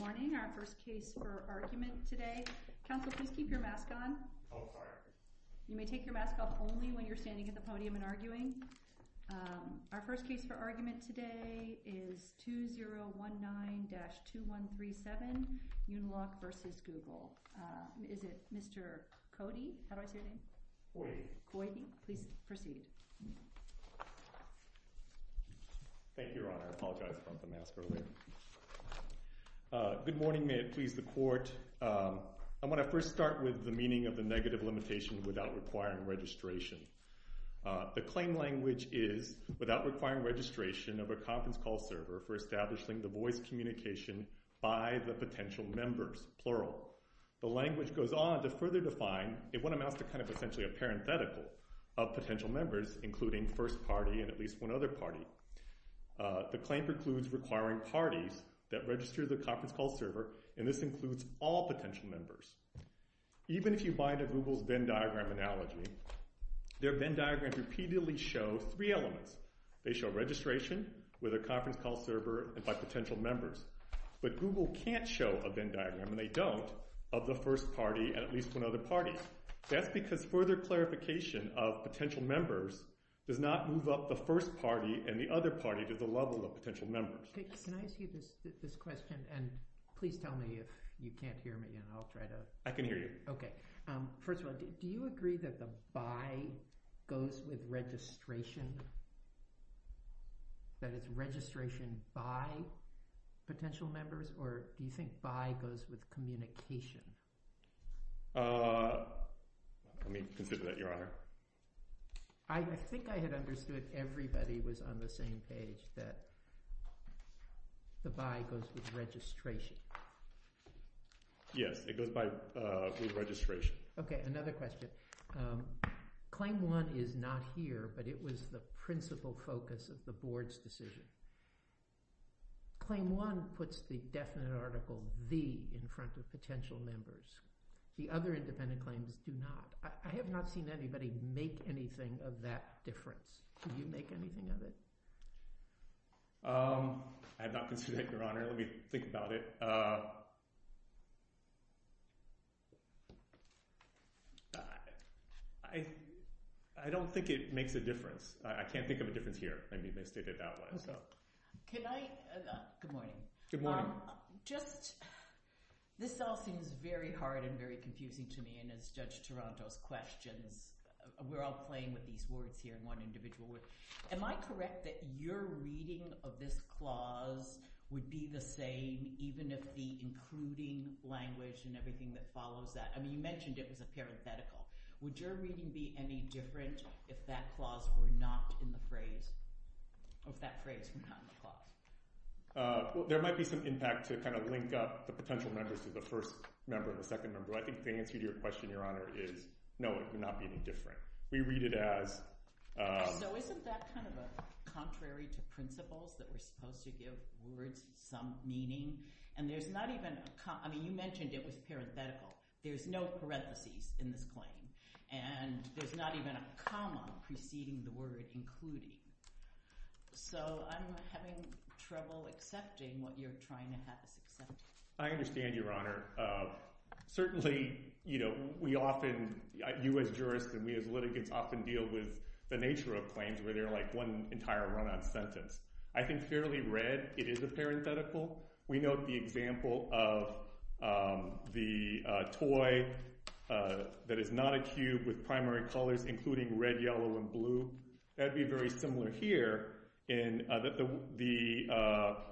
Morning, our first case for argument today. Council, please keep your mask on. Oh, sorry. You may take your mask off only when you're standing at the podium and arguing. Our first case for argument today is 2019-2137 Uniloc v. Google. Is it Mr. Cody? How do I say that? Coide. Coide. Please proceed. Thank you, Your Honor. I apologize for the mask earlier. Good morning. May it please the Court. I want to first start with the meaning of the negative limitation without requiring registration. The claim language is without requiring registration of a conference call server for establishing the voice communication by the potential members, plural. The language goes on to further define what amounts to kind of essentially a parenthetical of potential members, including first party and at least one other party. The claim precludes requiring parties that register the conference call server, and this includes all potential members. Even if you buy into Google's Venn diagram analogy, their Venn diagram repeatedly shows three elements. They show registration with a conference call server and by potential members. But Google can't show a Venn diagram, and they don't, of the first party and at least one other party. That's because further clarification of potential members does not move up the first party and the other party to the level of potential members. Can I ask you this question, and please tell me if you can't hear me. I can hear you. Okay. First of all, do you agree that the by goes with registration? That it's registration by potential members, or do you think by goes with communication? Let me consider that, Your Honor. I think I had understood everybody was on the same page, that the by goes with registration. Yes, it goes by with registration. Okay, another question. Claim one is not here, but it was the principal focus of the board's decision. Claim one puts the definite article, the, in front of potential members. The other independent claims do not. I have not seen anybody make anything of that difference. Did you make anything of it? I have not considered it, Your Honor. Let me think about it. I don't think it makes a difference. I can't think of a difference here. Can I, good morning. Good morning. Just, this all seems very hard and very confusing to me, and it's Judge Toronto's questions. We're all playing with these words here, one individual word. Am I correct that your reading of this clause would be the same, even if the including language and everything that follows that, I mean, you mentioned it was a parenthetical. Would your reading be any different if that clause were not in the phrase, or if that phrase were not in the clause? Well, there might be some impact to kind of link up the potential members to the first member and the second member, but I think the answer to your question, Your Honor, is no, it would not be any different. We read it as. So isn't that kind of a contrary to principles that we're supposed to give words some meaning? And there's not even, I mean, you mentioned it was parenthetical. There's no parentheses in this claim, and there's not even a comma preceding the word including. So I'm having trouble accepting what you're trying to have us accept. I understand, Your Honor. Certainly, you know, we often, you as jurists and we as litigants often deal with the nature of claims where they're like one entire run-on sentence. I think fairly read, it is a parenthetical. We note the example of the toy that is not a cube with primary colors including red, yellow, and blue. That would be very similar here in that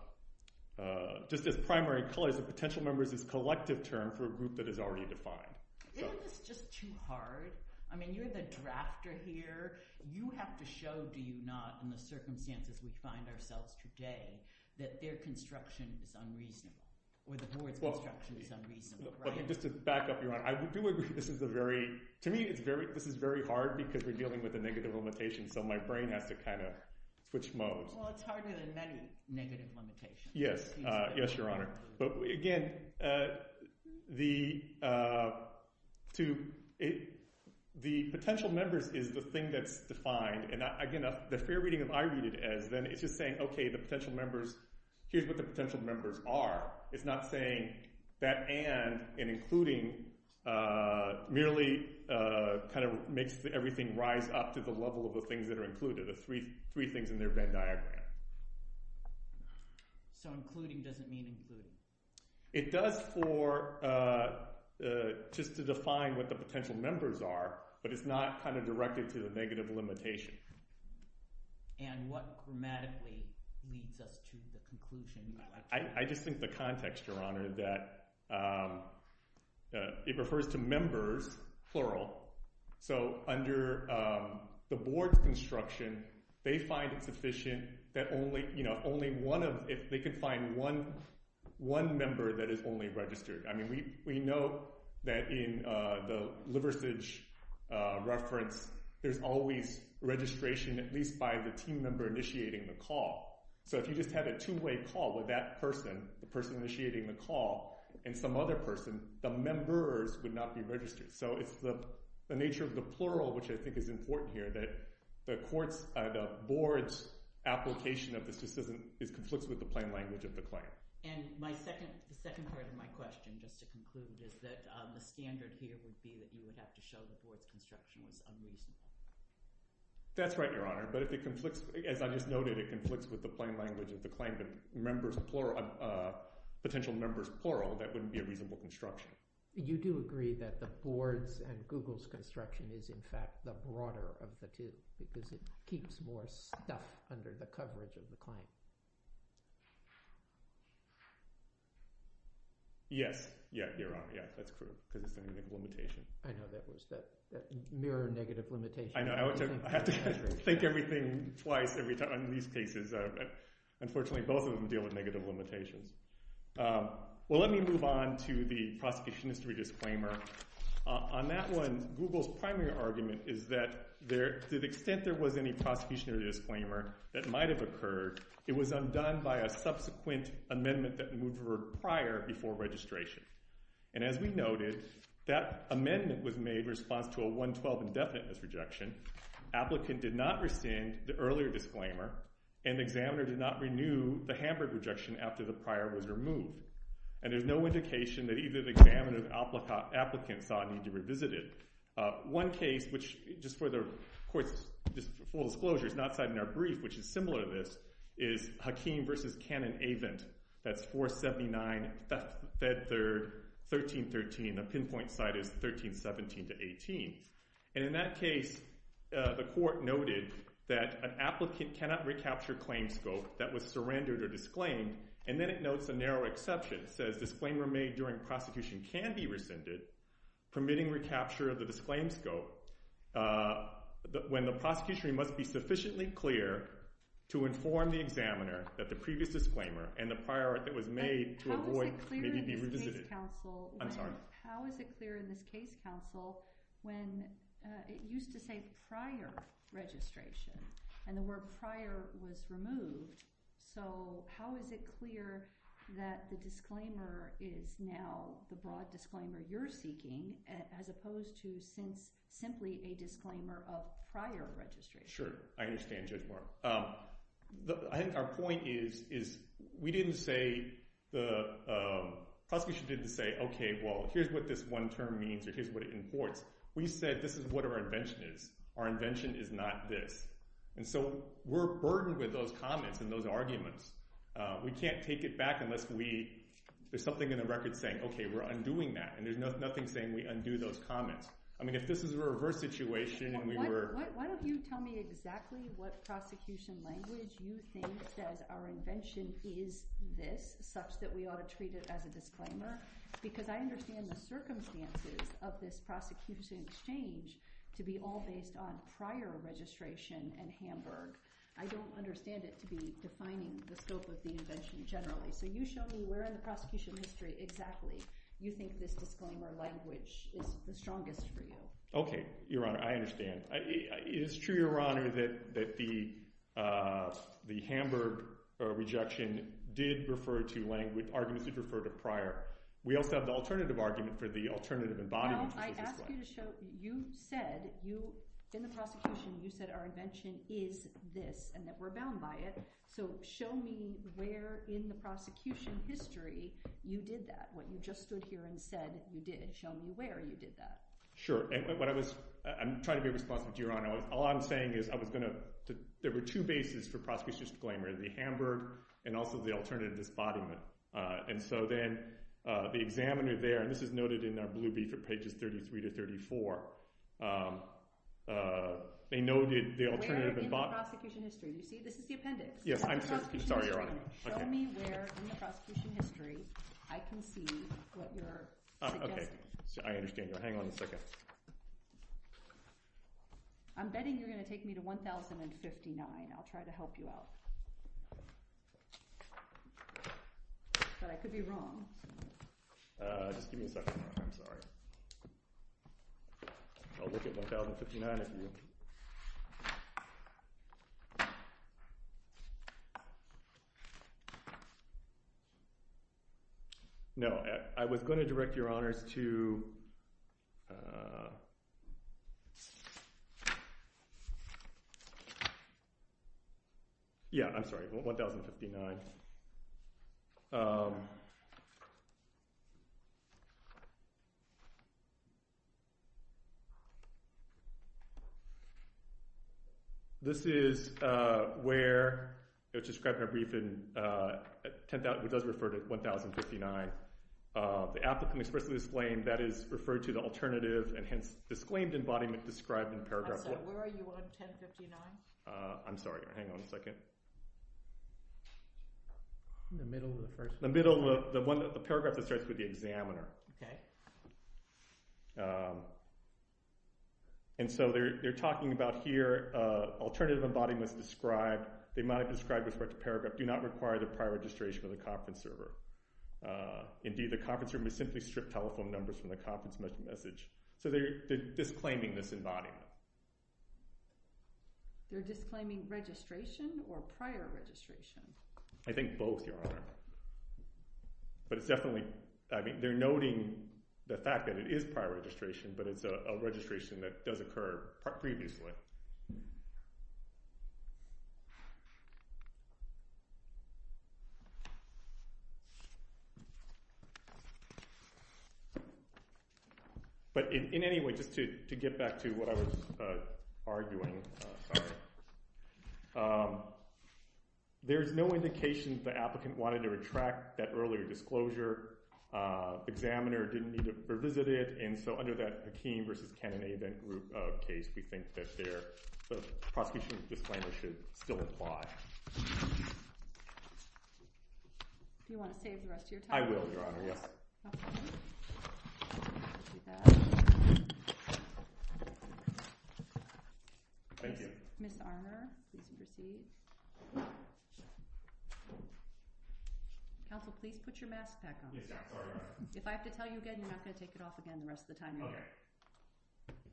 just as primary colors, the potential members is a collective term for a group that is already defined. Isn't this just too hard? I mean, you're the drafter here. You have to show, do you not, in the circumstances we find ourselves today that their construction is unreasonable or the board's construction is unreasonable, right? Just to back up, Your Honor, I do agree this is a very – to me, this is very hard because we're dealing with a negative limitation, so my brain has to kind of switch modes. Well, it's harder than many negative limitations. Yes. Yes, Your Honor. But again, the potential members is the thing that's defined. Again, the fair reading of I read it as then it's just saying, okay, the potential members – here's what the potential members are. It's not saying that and, and including merely kind of makes everything rise up to the level of the things that are included, the three things in their Venn diagram. So including doesn't mean included? It does for just to define what the potential members are, but it's not kind of directed to the negative limitation. And what grammatically leads us to the conclusion? I just think the context, Your Honor, that it refers to members, plural. So under the board's construction, they find it sufficient that only, you know, only one of – if they could find one member that is only registered. I mean, we know that in the Liversidge reference, there's always registration, at least by the team member initiating the call. So if you just had a two-way call with that person, the person initiating the call, and some other person, the members would not be registered. So it's the nature of the plural, which I think is important here, that the court's – the board's application of this just doesn't – it conflicts with the plain language of the claim. And my second part of my question, just to conclude, is that the standard here would be that you would have to show the board's construction as unreasonable. That's right, Your Honor. But if it conflicts – as I just noted, it conflicts with the plain language of the claim that members plural – potential members plural, that wouldn't be a reasonable construction. You do agree that the board's and Google's construction is, in fact, the broader of the two because it keeps more stuff under the coverage of the claim. Yes. Yeah, Your Honor. Yeah, that's correct because it's a negative limitation. I know. That was that mirror negative limitation. I know. I have to think everything twice in these cases. Unfortunately, both of them deal with negative limitations. Well, let me move on to the prosecution history disclaimer. On that one, Google's primary argument is that the extent there was any prosecution or disclaimer that might have occurred, it was undone by a subsequent amendment that would have occurred prior before registration. And as we noted, that amendment was made in response to a 112 indefiniteness rejection. Applicant did not rescind the earlier disclaimer, and the examiner did not renew the Hamburg rejection after the prior was removed. And there's no indication that either the examiner or the applicant saw a need to revisit it. One case, which just for the court's full disclosure, is not cited in our brief, which is similar to this, is Hakeem v. Cannon-Avent. That's 479, Fed Third, 1313. The pinpoint site is 1317-18. And in that case, the court noted that an applicant cannot recapture claims scope that was surrendered or disclaimed, and then it notes a narrow exception. It says disclaimer made during prosecution can be rescinded, permitting recapture of the disclaim scope. When the prosecution must be sufficiently clear to inform the examiner that the previous disclaimer and the prior that was made to avoid may be revisited. I'm sorry. How is it clear in this case, counsel, when it used to say prior registration and the word prior was removed, so how is it clear that the disclaimer is now the broad disclaimer you're seeking as opposed to simply a disclaimer of prior registration? Sure. I understand, Judge Moore. I think our point is we didn't say the prosecution didn't say, okay, well, here's what this one term means or here's what it imports. We said this is what our invention is. Our invention is not this. And so we're burdened with those comments and those arguments. We can't take it back unless there's something in the record saying, okay, we're undoing that. And there's nothing saying we undo those comments. I mean, if this is a reverse situation and we were – Why don't you tell me exactly what prosecution language you think says our invention is this such that we ought to treat it as a disclaimer because I understand the circumstances of this prosecution exchange to be all based on prior registration and Hamburg. I don't understand it to be defining the scope of the invention generally. So you show me where in the prosecution history exactly you think this disclaimer language is the strongest for you. Okay, Your Honor. I understand. It is true, Your Honor, that the Hamburg rejection did refer to language – arguments referred to prior. We also have the alternative argument for the alternative embodiment. No, I asked you to show – you said you – in the prosecution you said our invention is this and that we're bound by it. So show me where in the prosecution history you did that, what you just stood here and said you did. Show me where you did that. Sure. What I was – I'm trying to be responsive to you, Your Honor. All I'm saying is I was going to – there were two bases for prosecution disclaimer, the Hamburg and also the alternative embodiment. And so then the examiner there – and this is noted in our blue brief at pages 33 to 34. They noted the alternative – Where in the prosecution history? You see, this is the appendix. Yes, I'm – sorry, Your Honor. Show me where in the prosecution history I can see what you're suggesting. Okay. I understand. Hang on a second. I'm betting you're going to take me to 1059. I'll try to help you out. But I could be wrong. Just give me a second. I'm sorry. I'll look at 1059 if you – No, I was going to direct Your Honors to – Yeah, I'm sorry, 1059. This is where it was described in our brief in – it does refer to 1059. The applicant expressly disclaimed that is referred to the alternative and hence disclaimed embodiment described in paragraph – I'm sorry. Where are you on 1059? I'm sorry. Hang on a second. In the middle of the first – The middle of the one – the paragraph that starts with the examiner. Okay. And so they're talking about here alternative embodiment is described. They might have described it with respect to paragraph. Do not require the prior registration from the conference server. Indeed, the conference server may simply strip telephone numbers from the conference message. So they're disclaiming this embodiment. You're disclaiming registration or prior registration? I think both, Your Honor. But it's definitely – I mean, they're noting the fact that it is prior registration, but it's a registration that does occur previously. But in any way, just to get back to what I was arguing, sorry, there's no indication that the applicant wanted to retract that earlier disclosure. The examiner didn't need to revisit it. And so under that Hakeem v. Kennedy event group case, we think that the prosecution disclaimer should still apply. Do you want to save the rest of your time? I will, Your Honor. Yes. Okay. Thank you. Ms. Arner, please be seated. Counsel, please put your mask back on. Yes, Your Honor. If I have to tell you again, you're not going to take it off again the rest of the time, are you? Okay. Thank you.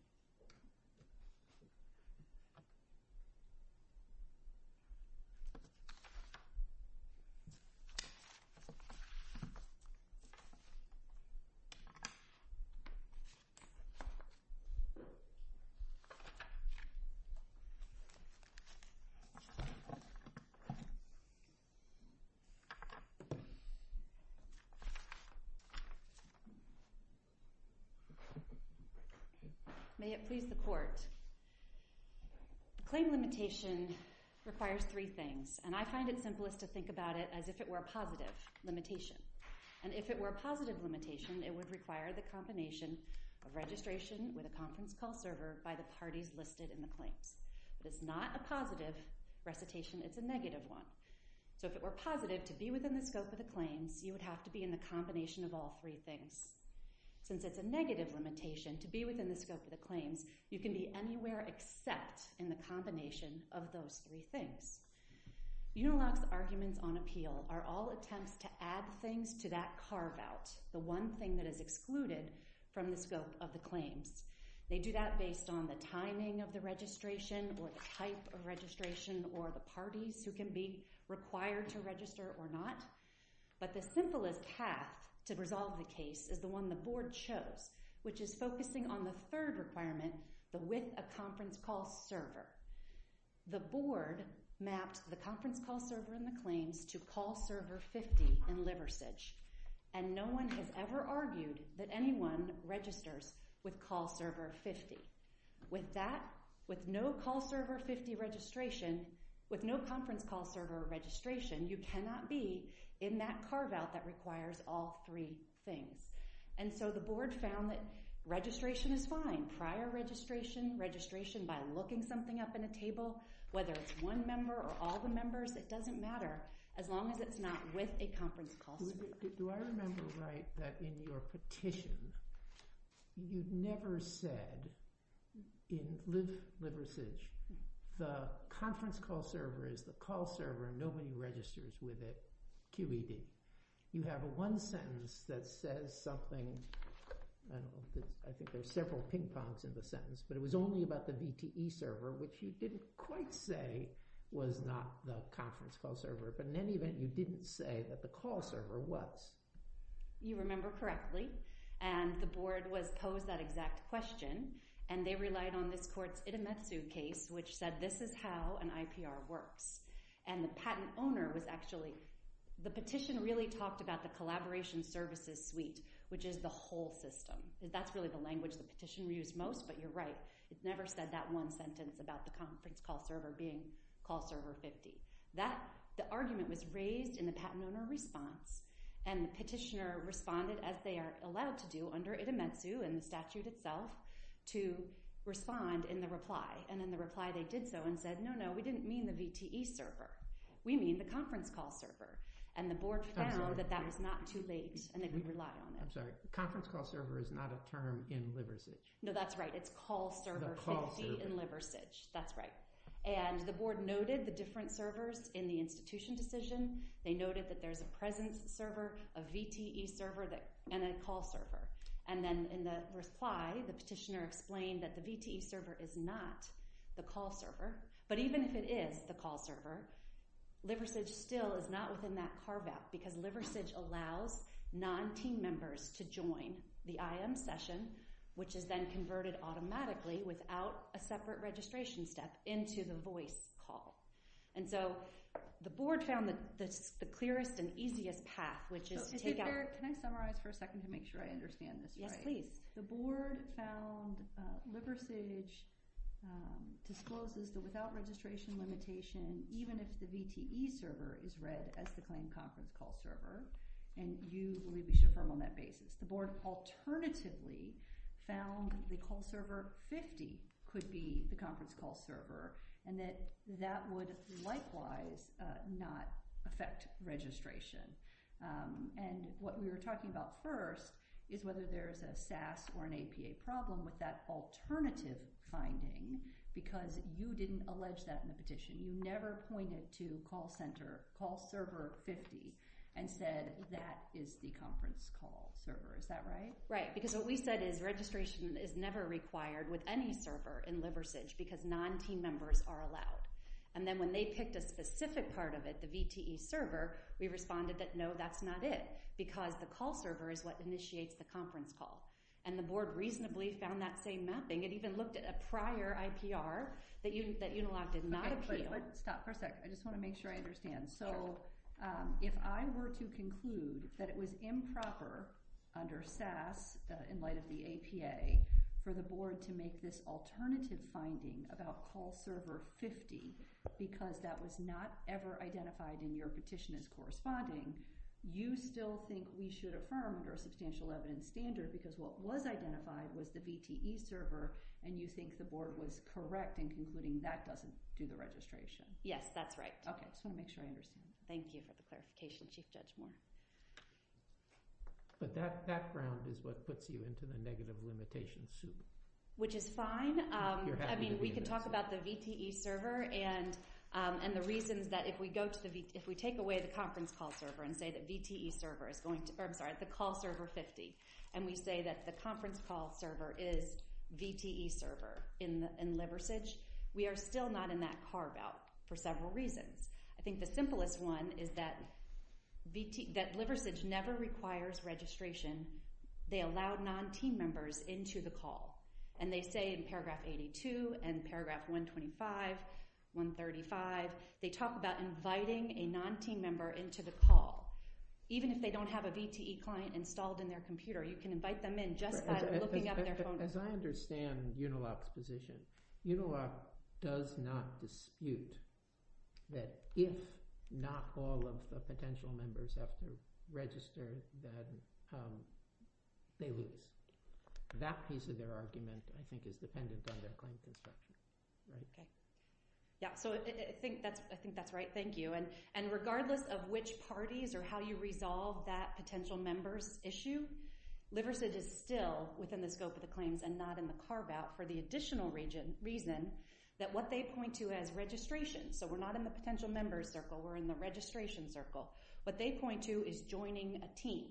May it please the Court. Claim limitation requires three things, and I find it simplest to think about it as if it were a positive limitation. And if it were a positive limitation, it would require the combination of registration with a conference call server by the parties listed in the claims. If it's not a positive recitation, it's a negative one. So if it were positive to be within the scope of the claims, you would have to be in the combination of all three things. Since it's a negative limitation to be within the scope of the claims, you can be anywhere except in the combination of those three things. Uniloc's arguments on appeal are all attempts to add things to that carve-out, the one thing that is excluded from the scope of the claims. They do that based on the timing of the registration or the type of registration or the parties who can be required to register or not. But the simplest path to resolve the case is the one the Board chose, which is focusing on the third requirement, the width of conference call server. The Board mapped the conference call server in the claims to call server 50 in Liversidge, and no one has ever argued that anyone registers with call server 50. With no conference call server registration, you cannot be in that carve-out that requires all three things. And so the Board found that registration is fine, prior registration, registration by looking something up in a table, whether it's one member or all the members, it doesn't matter, as long as it's not with a conference call server. Do I remember right that in your petition, you've never said, in Liversidge, the conference call server is the call server, nobody registers with it, QED. You have one sentence that says something, I think there's several ping-pongs in the sentence, but it was only about the DTE server, which you didn't quite say was not the conference call server, but in any event, you didn't say that the call server was. You remember correctly, and the Board posed that exact question, and they relied on this court's Itemetsu case, which said this is how an IPR works. And the patent owner was actually, the petition really talked about the collaboration services suite, which is the whole system. That's really the language the petition used most, but you're right, it never said that one sentence about the conference call server being call server 50. The argument was raised in the patent owner response, and the petitioner responded as they are allowed to do under Itemetsu and the statute itself, to respond in the reply. And in the reply, they did so and said, no, no, we didn't mean the DTE server, we mean the conference call server. And the Board found that that was not too late, and they relied on it. I'm sorry, conference call server is not a term in Liversidge. No, that's right, it's call server 50 in Liversidge. That's right. And the Board noted the different servers in the institution decision. They noted that there's a presence server, a VTE server, and a call server. And then in the reply, the petitioner explained that the VTE server is not the call server. But even if it is the call server, Liversidge still is not within that carve out because Liversidge allows non-team members to join the IM session, which is then converted automatically without a separate registration step into the voice call. And so the Board found the clearest and easiest path, which is to take out. Can I summarize for a second to make sure I understand this right? Yes, please. The Board found Liversidge discloses that without registration limitation, even if the VTE server is read as the claimed conference call server, and you release your firm on that basis, the Board alternatively found the call server 50 could be the conference call server and that that would likewise not affect registration. And what we were talking about first is whether there's a SAS or an APA problem with that alternative finding because you didn't allege that in the petition. You never pointed to call center, call server 50, and said that is the conference call server. Is that right? Right, because what we said is registration is never required with any server in Liversidge because non-team members are allowed. And then when they picked a specific part of it, the VTE server, we responded that no, that's not it because the call server is what initiates the conference call. And the Board reasonably found that same mapping. It even looked at a prior IPR that Unilog did not appeal. But stop for a second. I just want to make sure I understand. So if I were to conclude that it was improper under SAS in light of the APA for the Board to make this alternative finding about call server 50 because that was not ever identified in your petition as corresponding, you still think we should affirm under a substantial evidence standard because what was identified was the VTE server and you think the Board was correct in concluding that doesn't do the registration? Yes, that's right. Okay, I just want to make sure I understand. Thank you for the clarification, Chief Judge Moore. But that background is what puts you into the negative limitation suit. Which is fine. I mean, we can talk about the VTE server and the reasons that if we take away the conference call server and say that the call server 50 and we say that the conference call server is VTE server in Liversidge, we are still not in that carve out for several reasons. I think the simplest one is that Liversidge never requires registration. They allow non-team members into the call. And they say in paragraph 82 and paragraph 125, 135, they talk about inviting a non-team member into the call. Even if they don't have a VTE client installed in their computer, you can invite them in just by looking up their phone number. As I understand Unilock's position, Unilock does not dispute that if not all of the potential members have to register, then they lose. That piece of their argument, I think, is dependent on their claim case documents. Yeah, so I think that's right. Thank you. And regardless of which parties or how you resolve that potential members issue, Liversidge is still within the scope of the claims and not in the carve out for the additional reason that what they point to as registration, so we're not in the potential members circle, we're in the registration circle. What they point to is joining a team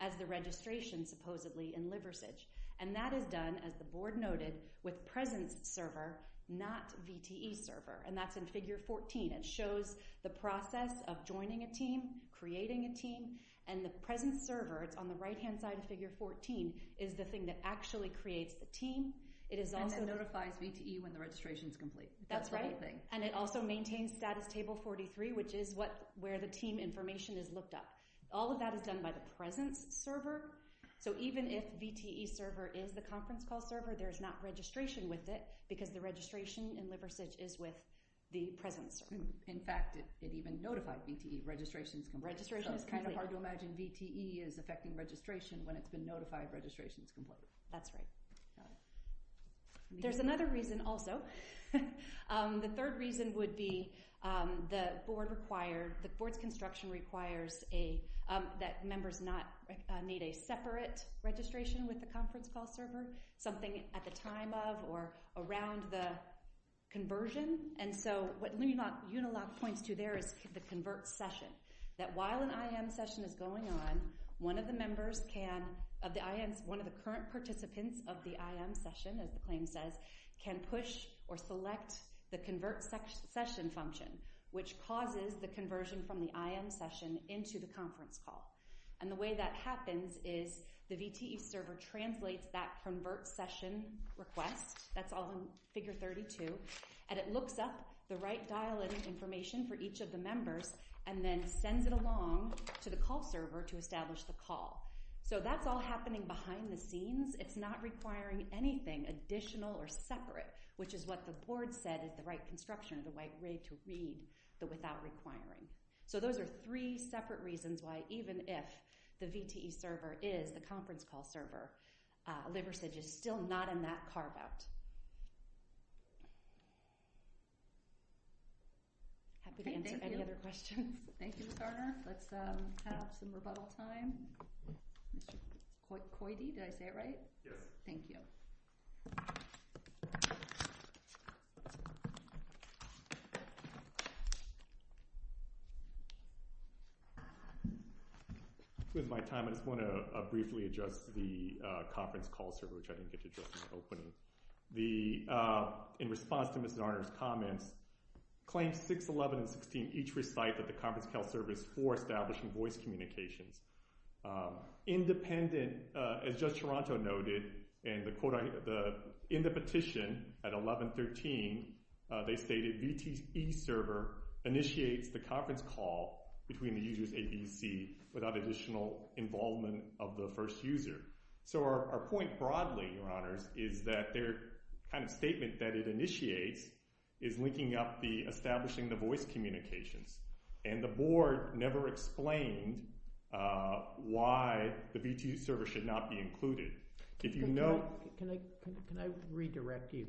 as the registration supposedly in Liversidge. And that is done, as the board noted, with presence server, not VTE server. And that's in figure 14. It shows the process of joining a team, creating a team, and the presence server, it's on the right-hand side of figure 14, is the thing that actually creates the team. And it notifies VTE when the registration is complete. That's right, and it also maintains status table 43, which is where the team information is looked up. All of that is done by the presence server, so even if VTE server is the conference call server, there's not registration with it because the registration in Liversidge is with the presence server. In fact, it even notified VTE registration is complete. So it's kind of hard to imagine VTE is affecting registration when it's been notified registration is complete. That's right. There's another reason also. The third reason would be the board's construction requires that members not need a separate registration with the conference call server, something at the time of or around the conversion. And so what Unilock points to there is the convert session, that while an IM session is going on, one of the current participants of the IM session, as the claim says, can push or select the convert session function, which causes the conversion from the IM session into the conference call. And the way that happens is the VTE server translates that convert session request, that's all in figure 32, and it looks up the right dial-in information for each of the members and then sends it along to the call server to establish the call. So that's all happening behind the scenes. It's not requiring anything additional or separate, which is what the board said is the right construction of the right way to read the without requiring. So those are three separate reasons why, even if the VTE server is the conference call server, Liversidge is still not in that carve-out. Happy to answer any other questions. Thank you, Sarna. Let's have some rebuttal time. Koide, did I say it right? Yes. Thank you. With my time, I just want to briefly address the conference call server, which I didn't get to address in the opening. In response to Mr. Arnor's comments, Claims 6, 11, and 16 each recite that the conference call server is for establishing voice communications. Independent, as Judge Toronto noted, and in the petition at 1113, they stated VTE server initiates the conference call between the users A, B, C, without additional involvement of the first user. So our point broadly, Your Honors, is that their kind of statement that it initiates is linking up the establishing the voice communications. And the board never explained why the VTE server should not be included. Can I redirect you?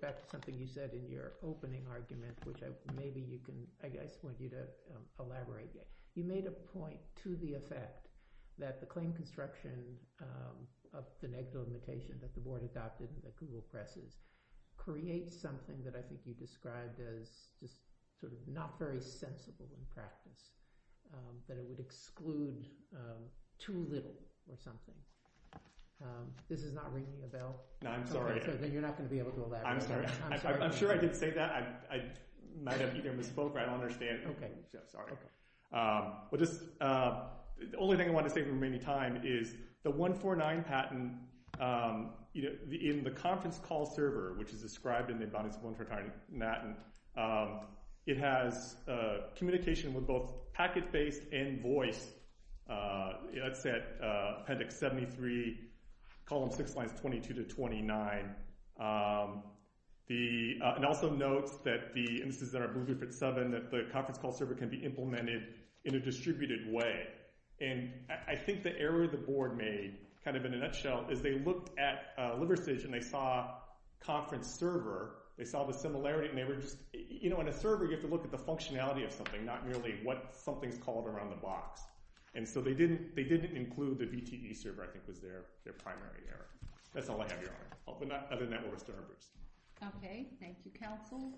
That's something you said in your opening argument, You made a point to the effect that the claim construction of the negative limitation that the board adopted and that Google presses creates something that I think you described as sort of not very sensible in practice, that it would exclude too little or something. This is not ringing a bell? No, I'm sorry. Then you're not going to be able to elaborate. I'm sure I did say that. I might have either misspoke or I don't understand. Okay. Sorry. The only thing I want to say before we run out of time is the 149 patent in the conference call server, which is described in the abundance of 149 patent, it has communication with both packet-based and voice. It's at appendix 73, column 6, lines 22 to 29. It also notes that the instances that are grouped at 7, that the conference call server can be implemented in a distributed way. I think the error the board made, kind of in a nutshell, is they looked at Liberstage and they saw conference server. They saw the similarity. In a server, you have to look at the functionality of something, not merely what something's called around the box. So they didn't include the BTE server, I think, was their primary error. That's all I have, Your Honor. Other than that, we're still in reverse. Okay. Thank you, counsel.